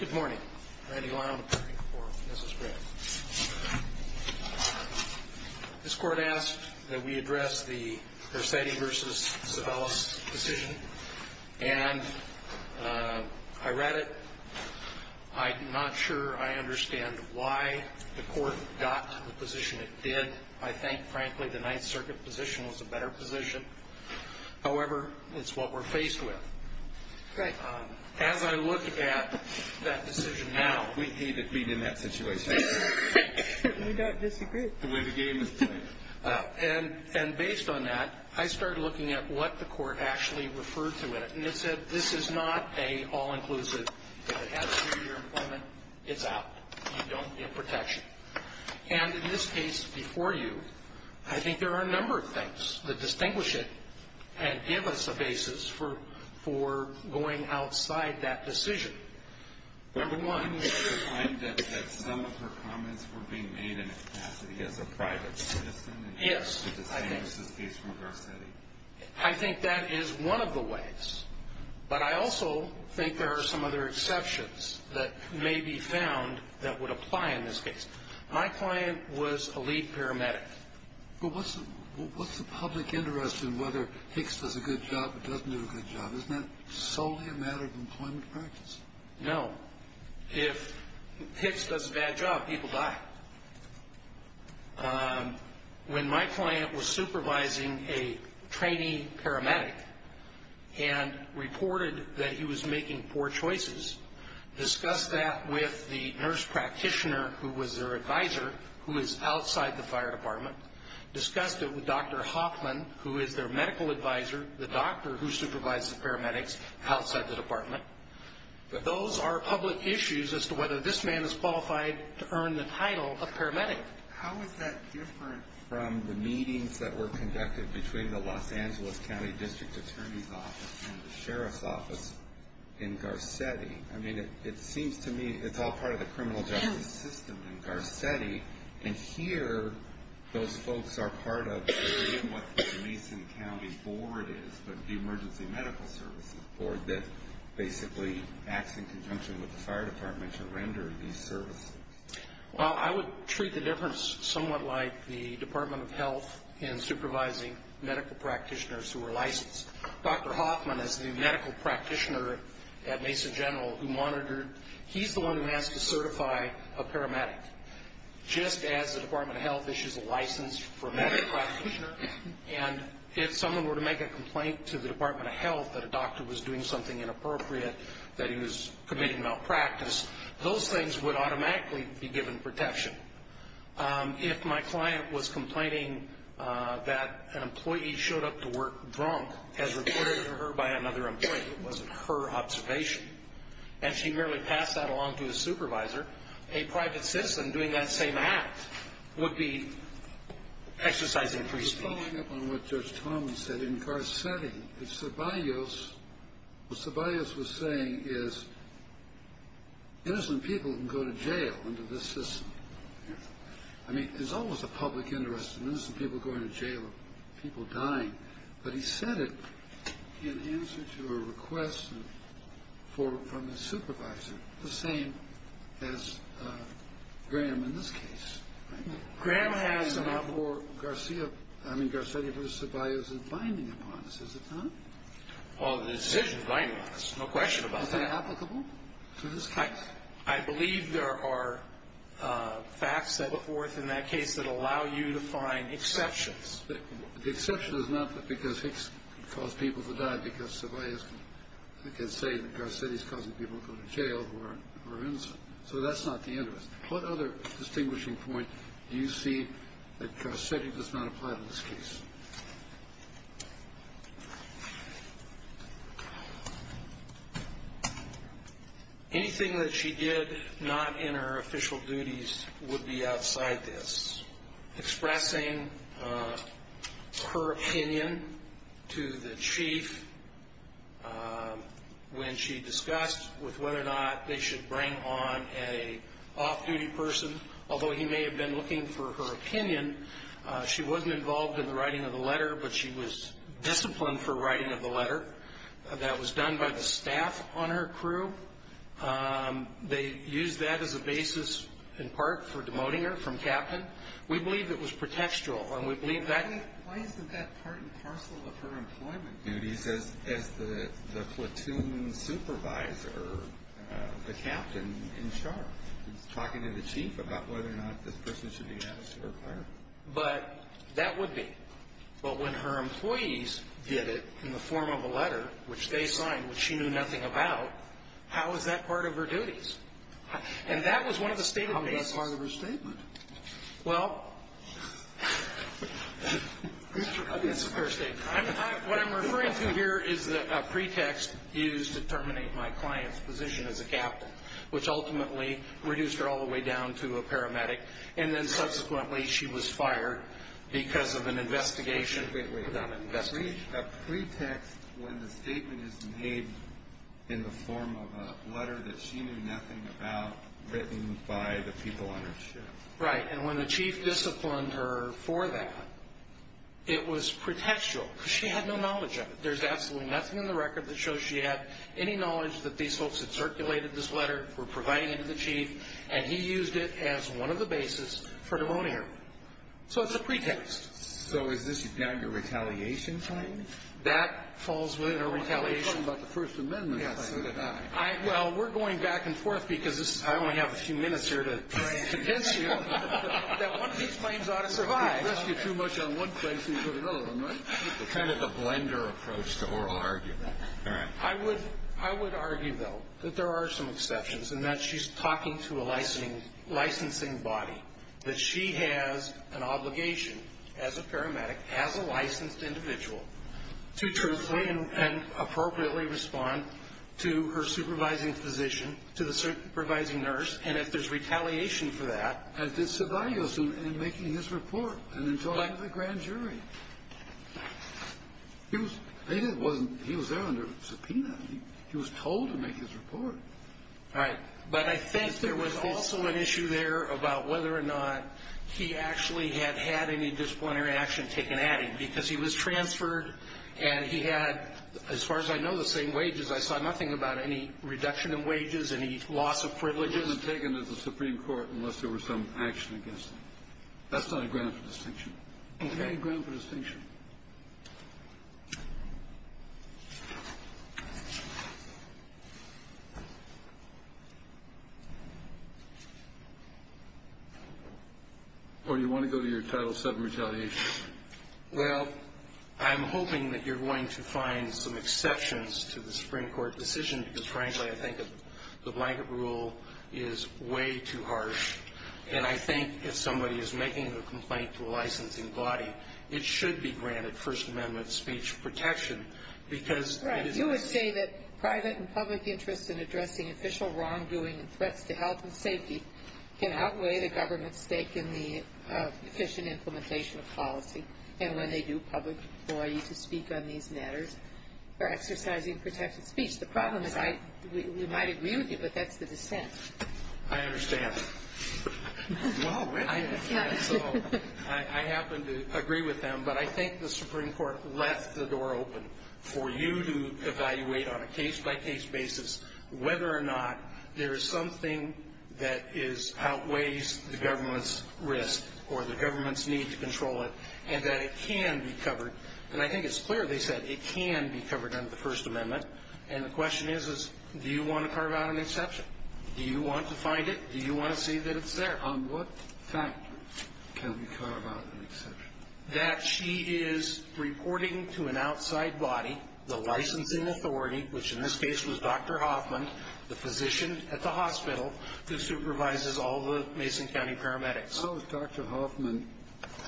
Good morning. Randy Lyon, attorney for Mrs. Greene. This court asked that we address the Garcetti v. Sabellis decision, and I read it. I'm not sure I understand why the court got the position it did. I think, frankly, the Ninth Circuit position was a better position. However, it's what we're faced with. As I look at that decision now, and based on that, I started looking at what the court actually referred to it, and it said, this is not a all-inclusive, if it has to do with your employment, it's out. You don't get protection. And in this case before you, I think there are a number of things that distinguish it and give us a basis for going outside that decision. Number one — But wouldn't you find that some of her comments were being made in a capacity as a private citizen in order to distinguish this case from Garcetti? Yes, I think that is one of the ways. But I also think there are some other exceptions that may be found that would apply in this case. My client was a lead paramedic. But what's the public interest in whether Hicks does a good job or doesn't do a good job? Isn't that solely a matter of employment practice? No. If Hicks does a bad job, people die. When my client was supervising a trainee paramedic and reported that he was making poor choices, discussed that with the nurse practitioner who was their advisor, who is outside the fire department, discussed it with Dr. Hoffman, who is their medical advisor, the doctor who supervises paramedics outside the department. But those are public issues as to whether this man is qualified to earn the title of paramedic. How is that different from the meetings that were conducted between the Los Angeles County District Attorney's Office and the Sheriff's Office in Garcetti? I mean, it seems to me it's all part of the criminal justice system in Garcetti. And here, those folks are part of what the Mason County Board is, but the Emergency Medical Services Board that basically acts in conjunction with the fire department to render these services. Well, I would treat the difference somewhat like the Department of Health in supervising medical practitioners who are licensed. Dr. Hoffman is the medical practitioner at Mason General who monitored. He's the one who has to certify a paramedic. Just as the Department of Health issues a license for a medical practitioner, and if someone were to make a complaint to the Department of Health that a doctor was doing something inappropriate, that he was committing malpractice, those things would automatically be given protection. If my client was complaining that an employee showed up to work drunk as reported to her by another employee, it wasn't her observation, and she merely passed that along to a supervisor, a private citizen doing that same act would be exercising free speech. Following up on what Judge Tomlin said in Garcetti, what Ceballos was saying is that innocent people can go to jail under this system. I mean, there's always a public interest in innocent people going to jail or people dying, but he said it in answer to a request from his supervisor, the same as Graham in this case. Graham has enough. So therefore, Garcetti v. Ceballos is binding upon us, is it not? Well, the decision is binding upon us, no question about that. Is that applicable to this case? I believe there are facts set forth in that case that allow you to find exceptions. The exception is not because Hicks caused people to die, because Ceballos can say that Garcetti's causing people to go to jail who are innocent. So that's not the interest. What other distinguishing point do you see that Garcetti does not apply to this case? Anything that she did not in her official duties would be outside this. Expressing her opinion to the chief when she discussed with whether or not they should bring on an off-duty person, although he may have been looking for her opinion. She wasn't involved in the writing of the letter, but she was disciplined for writing of the letter. That was done by the staff on her crew. They used that as a basis, in part, for demoting her from captain. We believe it was pretextual, and we believe that... Why isn't that part and parcel of her employment duties as the platoon supervisor, or the captain, in charge? Talking to the chief about whether or not this person should be asked to require it. But that would be. But when her employees did it in the form of a letter, which they signed, which she knew nothing about, how is that part of her duties? And that was one of the stated bases. How is that part of her statement? Well, that's her statement. What I'm referring to here is a pretext used to terminate my client's position as a captain, which ultimately reduced her all the way down to a paramedic, and then subsequently she was fired because of an investigation. Wait, wait, wait. A pretext when the statement is made in the form of a letter that she knew nothing about, written by the people on her ship. Right. And when the chief disciplined her for that, it was pretextual, because she had no knowledge of it. There's absolutely nothing in the record that shows she had any knowledge that these folks had circulated this letter, were providing it to the chief, and he used it as one of the bases for pneumonia. So it's a pretext. So is this now your retaliation claim? That falls within her retaliation. You're talking about the First Amendment claim. Yes, so did I. Well, we're going back and forth, because I only have a few minutes here to convince you that one of these claims ought to survive. You'd risk it too much on one claim for you to go to another one, right? Kind of a blender approach to oral argument. All right. I would argue, though, that there are some exceptions, and that she's talking to a licensing body, that she has an obligation as a paramedic, as a licensed individual, to truthfully and appropriately respond to her supervising physician, to the supervising nurse, and if there's retaliation for that. And it survives him in making his report and in talking to the grand jury. He was there under subpoena. He was told to make his report. All right. But I think there was also an issue there about whether or not he actually had had any disciplinary action taken at him, because he was transferred and he had, as far as I know, the same wages. I saw nothing about any reduction in wages, any loss of privileges. He wasn't taken to the Supreme Court unless there was some action against him. That's not a ground for distinction. It's not a ground for distinction. Or do you want to go to your Title VII retaliation? Well, I'm hoping that you're going to find some exceptions to the Supreme Court decision, because, frankly, I think the blanket rule is way too harsh. And I think if somebody is making a complaint to a licensing body, it should be granted First Amendment speech protection, because it is the same. Right. You would say that private and public interest in addressing official wrongdoing and threats to health and safety can outweigh the government's stake in the efficient implementation of policy. And when they do public employee to speak on these matters, they're exercising protected speech. The problem is we might agree with you, but that's the dissent. I understand. Well, I happen to agree with them. But I think the Supreme Court left the door open for you to evaluate on a case-by-case basis whether or not there is something that outweighs the government's risk or the government's need to control it, and that it can be covered. And I think it's clear they said it can be covered under the First Amendment. And the question is, do you want to carve out an exception? Do you want to find it? Do you want to see that it's there? On what fact can we carve out an exception? That she is reporting to an outside body, the licensing authority, which in this case was Dr. Hoffman, the physician at the hospital who supervises all the Mason County paramedics. How is Dr. Hoffman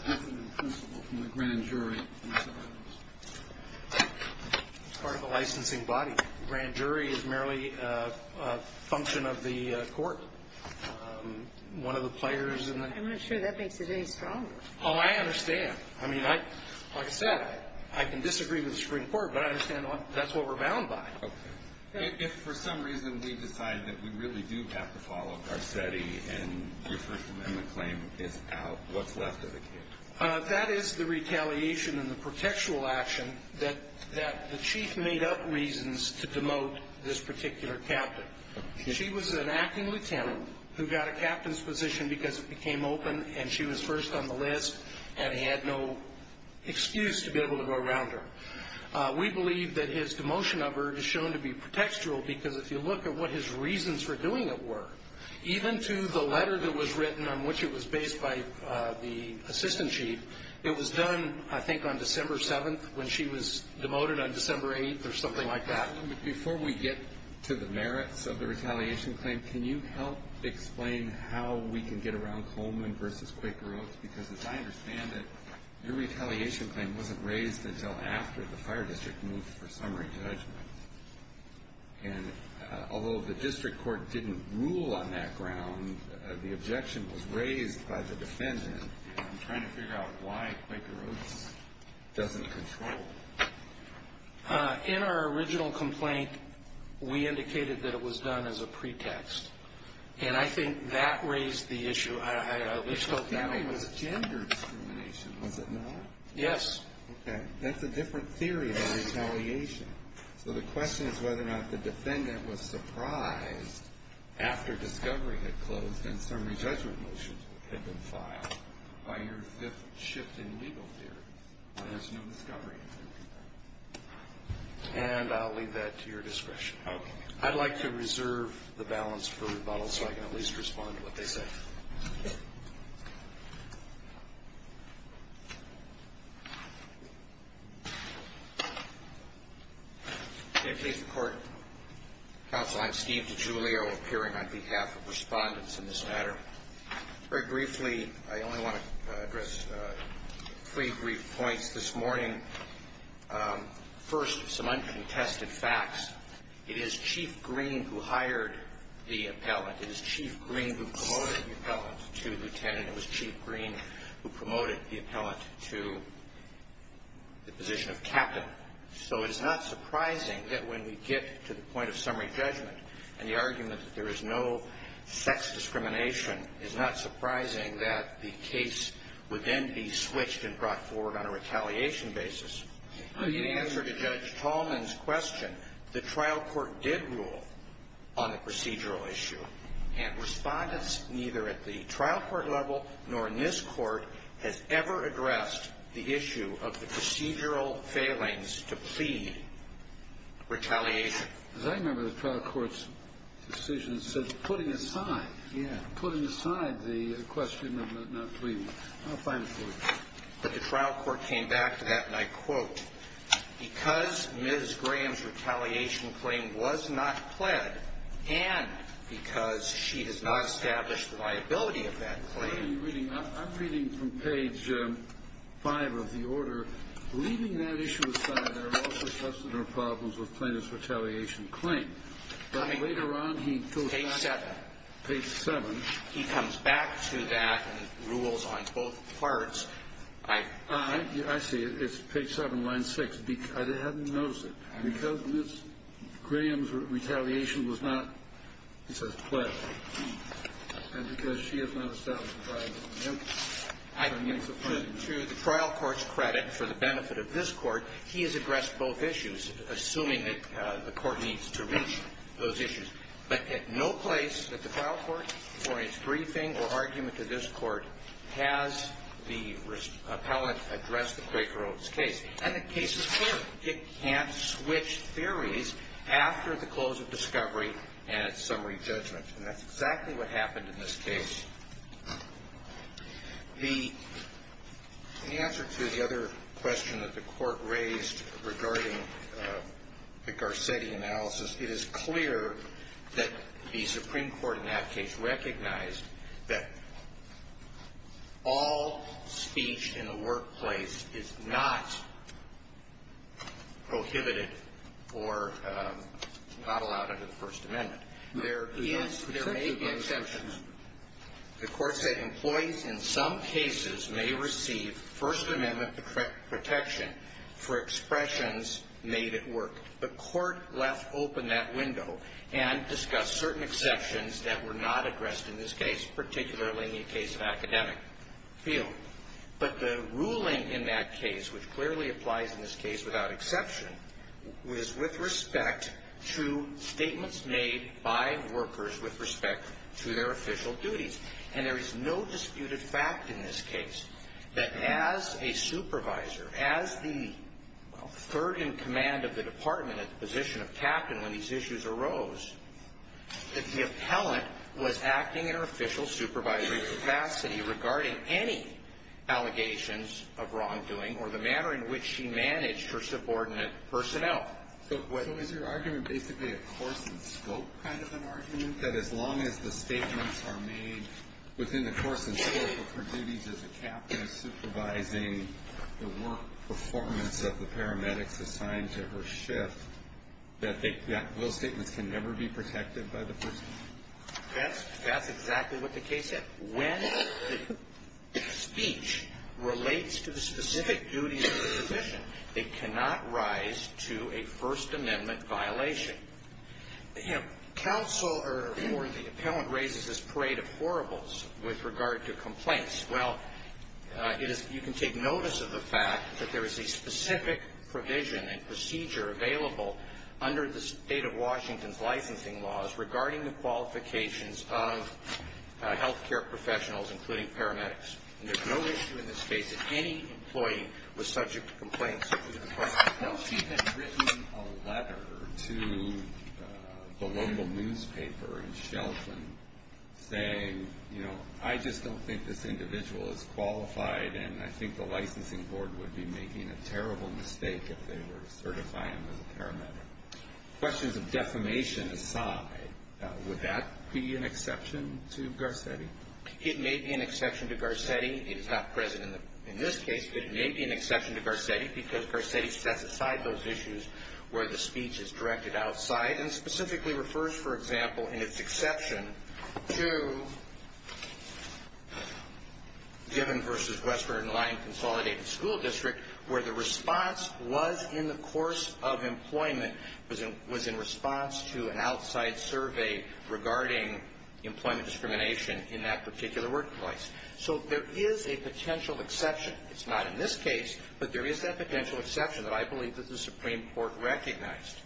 different than the principal from the grand jury? It's part of the licensing body. The grand jury is merely a function of the court. One of the players in the... I'm not sure that makes it any stronger. Oh, I understand. I mean, like I said, I can disagree with the Supreme Court, but I understand that's what we're bound by. Okay. If for some reason we decide that we really do have to follow Garcetti and the First Amendment claim is out, what's left of the case? That is the retaliation and the protectual action that the chief made up reasons to demote this particular captain. She was an acting lieutenant who got a captain's position because it became open and she was first on the list and he had no excuse to be able to go around her. We believe that his demotion of her is shown to be protectural because if you look at what his reasons for doing it were, even to the letter that was written on which it was based by the assistant chief, it was done, I think, on December 7th when she was demoted on December 8th or something like that. Before we get to the merits of the retaliation claim, can you help explain how we can get around Coleman versus Quaker Oats? Because as I understand it, your retaliation claim wasn't raised until after the fire district moved for summary judgment. And although the district court didn't rule on that ground, the objection was raised by the defendant. I'm trying to figure out why Quaker Oats doesn't control. In our original complaint, we indicated that it was done as a pretext. And I think that raised the issue. I wish that was gender discrimination, was it not? Yes. Okay. That's a different theory of retaliation. So the question is whether or not the defendant was surprised after discovery had closed and summary judgment motions had been filed by your shift in legal theory. There's no discovery. And I'll leave that to your discretion. Okay. I'd like to reserve the balance for rebuttal so I can at least respond to what they say. In the case of court, counsel, I'm Steve DiGiulio, appearing on behalf of respondents in this matter. Very briefly, I only want to address three brief points this morning. First, some uncontested facts. It is Chief Green who hired the appellant. It is Chief Green who promoted the appellant to lieutenant. It was Chief Green who promoted the appellant to the position of captain. So it is not surprising that when we get to the point of summary judgment and the argument that there is no sex discrimination, it's not surprising that the case would then be switched and brought forward on a retaliation basis. In answer to Judge Tallman's question, the trial court did rule on the procedural issue. And respondents neither at the trial court level nor in this court has ever addressed the issue of the procedural failings to plead retaliation. As I remember, the trial court's decision said putting aside. Yeah. Putting aside the question of not pleading. I'll find it for you. But the trial court came back to that and I quote, because Ms. Graham's retaliation claim was not pled and because she has not established the liability of that claim. I'm reading from page five of the order, leaving that issue aside, there are also problems with plaintiff's retaliation claim. But later on, he goes back to page seven. He comes back to that and rules on both parts. I see. It's page seven, line six. I hadn't noticed it. Because Ms. Graham's retaliation was not, he says, pled. And because she has not established the liability of the claim. I think to the trial court's credit, for the benefit of this court, he has addressed both issues, assuming that the court needs to reach those issues. But at no place that the trial court, for its briefing or argument to this court, has the appellant addressed the Quaker Oats case. And the case is clear. It can't switch theories after the close of discovery and its summary judgment. And that's exactly what happened in this case. The answer to the other question that the Court raised regarding the Garcetti analysis, it is clear that the Supreme Court in that case recognized that all speech in the workplace is not prohibited or not allowed under the First Amendment. There is, there may be exceptions. The Court said employees in some cases may receive First Amendment protection for expressions made at work. The Court left open that window and discussed certain exceptions that were not addressed in this case, particularly in the case of academic field. But the ruling in that case, which clearly applies in this case without exception, was with respect to statements made by workers with respect to their official duties. And there is no disputed fact in this case that as a supervisor, as the third in command of the department at the position of captain when these issues arose, that the appellant was acting in her official supervisory capacity regarding any allegations of wrongdoing or the manner in which she managed her subordinate personnel. So is your argument basically a course in scope kind of an argument? That as long as the statements are made within the course and scope of her duties as a captain supervising the work performance of the paramedics assigned to her shift, that those statements can never be protected by the First Amendment? That's exactly what the case said. When the speech relates to the specific duties of the position, they cannot rise to a First Amendment violation. Counsel or the appellant raises this parade of horribles with regard to complaints. Well, you can take notice of the fact that there is a specific provision and procedure available under the state of Washington's licensing laws regarding the qualifications of health care professionals, including paramedics. And there's no issue in this case that any employee was subject to complaints. She had written a letter to the local newspaper in Shelton saying, you know, I just don't think this individual is qualified. And I think the licensing board would be making a terrible mistake if they were certifying him as a paramedic. Questions of defamation aside, would that be an exception to Garcetti? It may be an exception to Garcetti. It is not present in this case. But it may be an exception to Garcetti because Garcetti sets aside those issues where the speech is directed outside and specifically refers, for example, in its exception to Diven versus Westford and Lyon Consolidated School District, where the response was in the course of employment, was in response to an outside survey regarding employment discrimination in that particular workplace. So there is a potential exception. It's not in this case. But there is that potential exception that I believe that the Supreme Court recognized.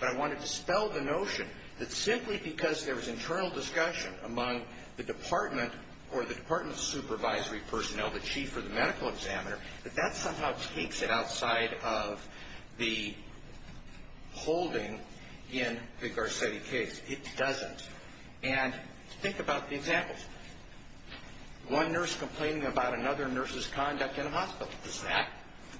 But I want to dispel the notion that simply because there was internal discussion among the department or the department's supervisory personnel, the chief or the medical examiner, that that somehow takes it outside of the holding in the Garcetti case. It doesn't. And think about the examples. One nurse complaining about another nurse's conduct in a hospital. Does that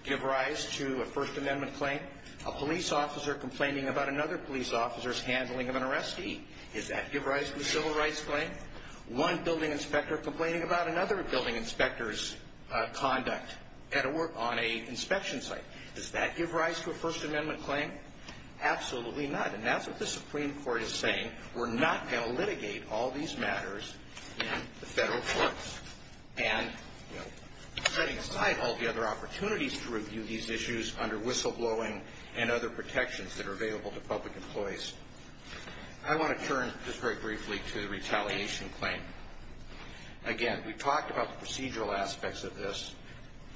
give rise to a First Amendment claim? A police officer complaining about another police officer's handling of an arrestee. Does that give rise to a civil rights claim? One building inspector complaining about another building inspector's conduct. On an inspection site. Does that give rise to a First Amendment claim? Absolutely not. And that's what the Supreme Court is saying. We're not going to litigate all these matters in the federal courts. And, you know, setting aside all the other opportunities to review these issues under whistleblowing and other protections that are available to public employees. I want to turn just very briefly to the retaliation claim. Again, we've talked about the procedural aspects of this.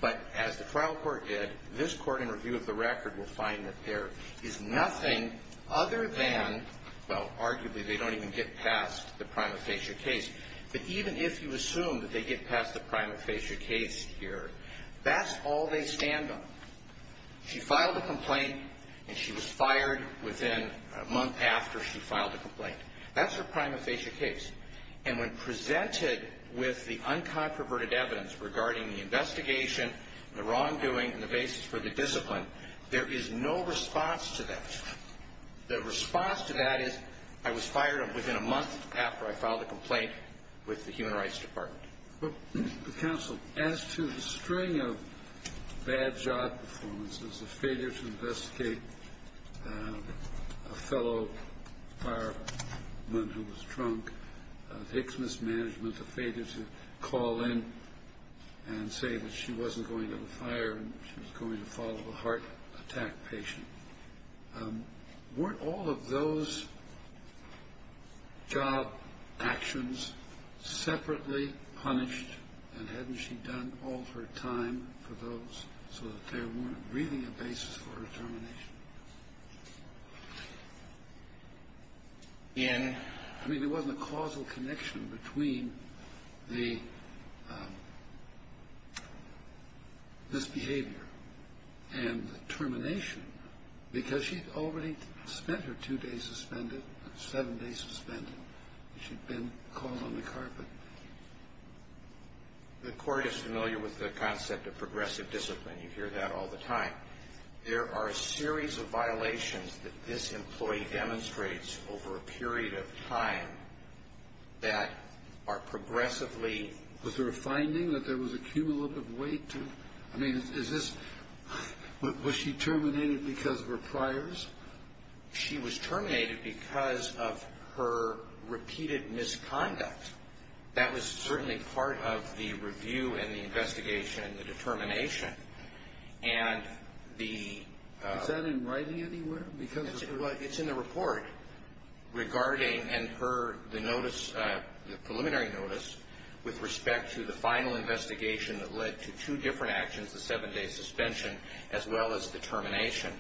But as the trial court did, this court in review of the record will find that there is nothing other than, well, arguably they don't even get past the prima facie case. But even if you assume that they get past the prima facie case here, that's all they stand on. She filed a complaint and she was fired within a month after she filed a complaint. That's her prima facie case. And when presented with the uncontroverted evidence regarding the investigation, the wrongdoing, and the basis for the discipline, there is no response to that. The response to that is, I was fired within a month after I filed a complaint with the Human Rights Department. Well, counsel, as to the string of bad job performances, the failure to investigate and a fellow fireman who was drunk, Hicks mismanagement, the failure to call in and say that she wasn't going to the fire and she was going to follow a heart attack patient. Weren't all of those job actions separately punished? And hadn't she done all her time for those so that there weren't really a basis for determination? I mean, there wasn't a causal connection between the misbehavior and the termination because she'd already spent her two days suspended, seven days suspended. She'd been caught on the carpet. The court is familiar with the concept of progressive discipline. You hear that all the time. There are a series of violations that this employee demonstrates over a period of time that are progressively... Was there a finding that there was a cumulative weight to... Was she terminated because of her priors? She was terminated because of her repeated misconduct. That was certainly part of the review and the investigation and the determination. Is that in writing anywhere? It's in the report regarding and per the preliminary notice with respect to the final investigation that led to two different actions, the seven-day suspension as well as the termination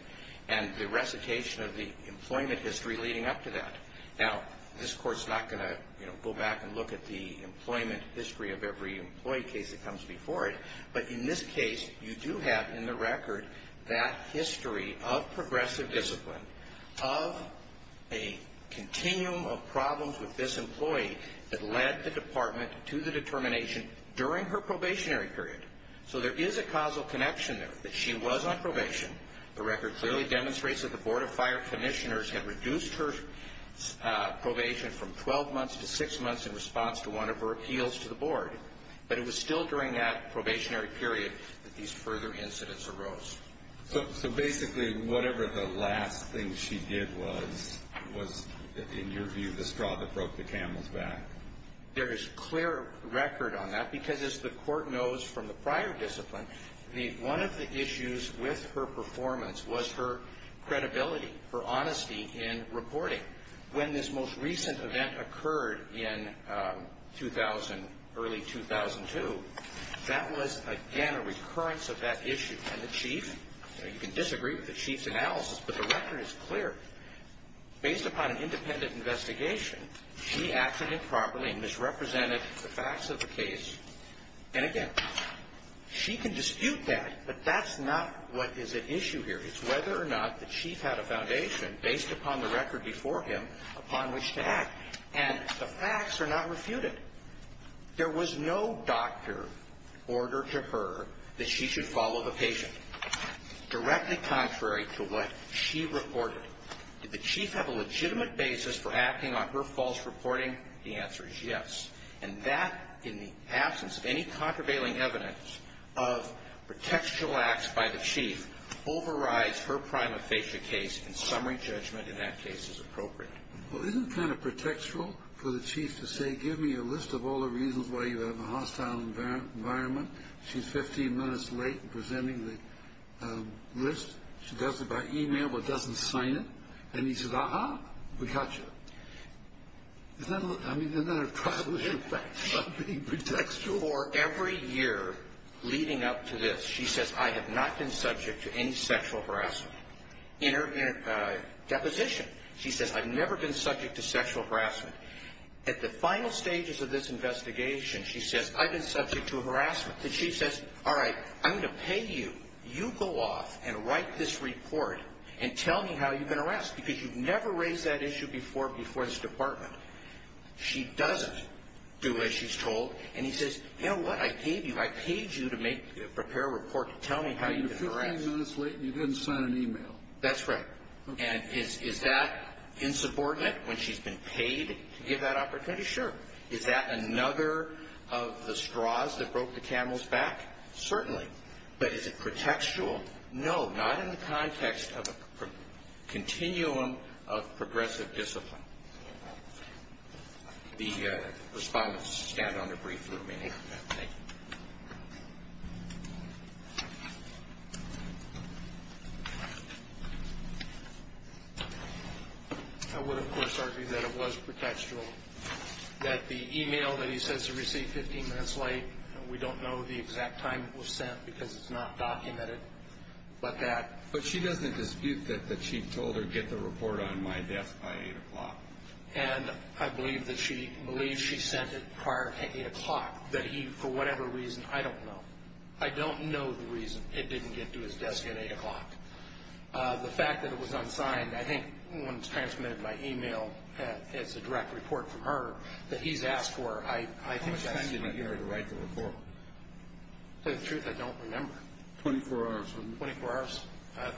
and the recitation of the employment history leading up to that. Now, this court's not going to go back and look at the employment history of every employee case that comes before it. But in this case, you do have in the record that history of progressive discipline of a continuum of problems with this employee that led the department to the determination during her probationary period. So there is a causal connection there that she was on probation. The record clearly demonstrates that the board of fire commissioners had reduced her probation from 12 months to six months in response to one of her appeals to the board. But it was still during that probationary period that these further incidents arose. So basically, whatever the last thing she did was, in your view, the straw that broke the camel's back? There is clear record on that because as the court knows from the prior discipline, one of the issues with her performance was her credibility, her honesty in reporting. When this most recent event occurred in early 2002, that was, again, a recurrence of that issue. And the chief, you can disagree with the chief's analysis, but the record is clear. Based upon an independent investigation, she acted improperly and misrepresented the facts of the case. And again, she can dispute that, but that's not what is at issue here. It's whether or not the chief had a foundation based upon the record before him upon which to act. And the facts are not refuted. There was no doctor order to her that she should follow the patient, directly contrary to what she reported. Did the chief have a legitimate basis for acting on her false reporting? The answer is yes. And that, in the absence of any contravailing evidence of pretextual acts by the chief, overrides her prima facie case. And summary judgment in that case is appropriate. Well, isn't it kind of pretextual for the chief to say, give me a list of all the reasons why you have a hostile environment? She's 15 minutes late in presenting the list. She does it by email, but doesn't sign it. And he says, aha, we got you. I mean, isn't that a privilege of facts, not being pretextual? For every year leading up to this, she says, I have not been subject to any sexual harassment. In her deposition, she says, I've never been subject to sexual harassment. At the final stages of this investigation, she says, I've been subject to harassment. The chief says, all right, I'm going to pay you. You go off and write this report and tell me how you've been harassed, because you've never raised that issue before before this department. She doesn't do as she's told. And he says, you know what? I paid you. I paid you to prepare a report to tell me how you've been harassed. You're 15 minutes late, and you didn't send an email. That's right. And is that insubordinate, when she's been paid to give that opportunity? Sure. Is that another of the straws that broke the camel's back? Certainly. But is it pretextual? No, not in the context of a continuum of progressive discipline. The respondents stand on their brief for a minute. I would, of course, argue that it was pretextual. That the email that he says he received 15 minutes late, and we don't know the exact time it was sent, because it's not documented, but that... But she doesn't dispute that the chief told her, get the report on my desk by 8 o'clock. And I believe that she believes she sent it prior to 8 o'clock, that he, for whatever reason, I don't know. I don't know the reason it didn't get to his desk at 8 o'clock. The fact that it was unsigned, I think when it's transmitted by email, it's a direct report from her that he's asked for. How much time did it take her to write the report? To tell you the truth, I don't remember. 24 hours. 24 hours.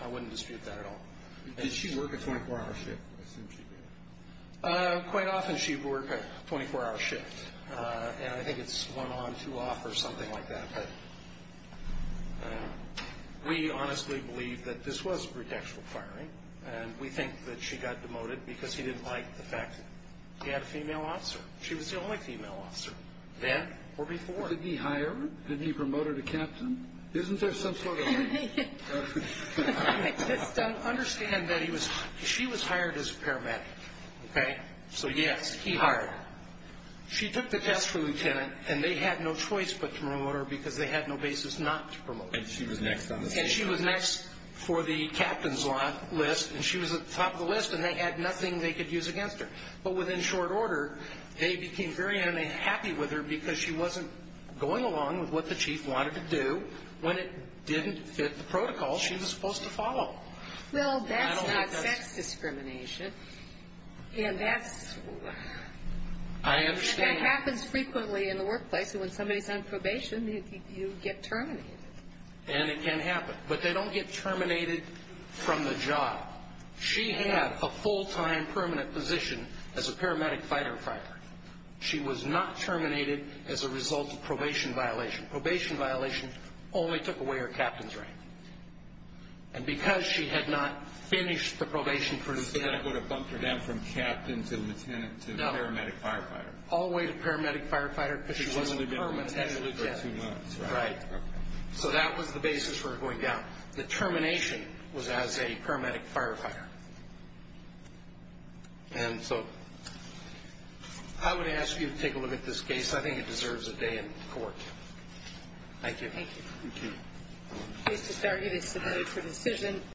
I wouldn't dispute that at all. Did she work a 24-hour shift? I assume she did. Quite often, she'd work a 24-hour shift. And I think it's one on, two off, or something like that. But we honestly believe that this was pretextual firing. And we think that she got demoted because he didn't like the fact that he had a female officer. She was the only female officer, then or before. Did he hire her? Did he promote her to captain? Isn't there some sort of... I just don't understand that he was... She was hired as a paramedic, okay? So, yes, he hired her. She took the test for lieutenant, and they had no choice but to promote her because they had no basis not to promote her. And she was next on the list. And she was next for the captain's list, and she was at the top of the list, and they had nothing they could use against her. But within short order, they became very unhappy with her because she wasn't going along with what the chief wanted to do when it didn't fit the protocol she was supposed to follow. Well, that's not sex discrimination. And that's... I understand... That happens frequently in the workplace, and when somebody's on probation, you get terminated. And it can happen. But they don't get terminated from the job. She had a full-time permanent position as a paramedic firefighter. She was not terminated as a result of probation violation. Probation violation only took away her captain's rank. And because she had not finished the probation for lieutenant... So that would have bumped her down from captain to lieutenant to paramedic firefighter. No, all the way to paramedic firefighter, but she wasn't permanent. She was lieutenant for two months, right? Right. So that was the basis for her going down. The termination was as a paramedic firefighter. And so I would ask you to take a look at this case. I think it deserves a day in court. Thank you. Thank you. Thank you. Case to start. It is submitted for decision.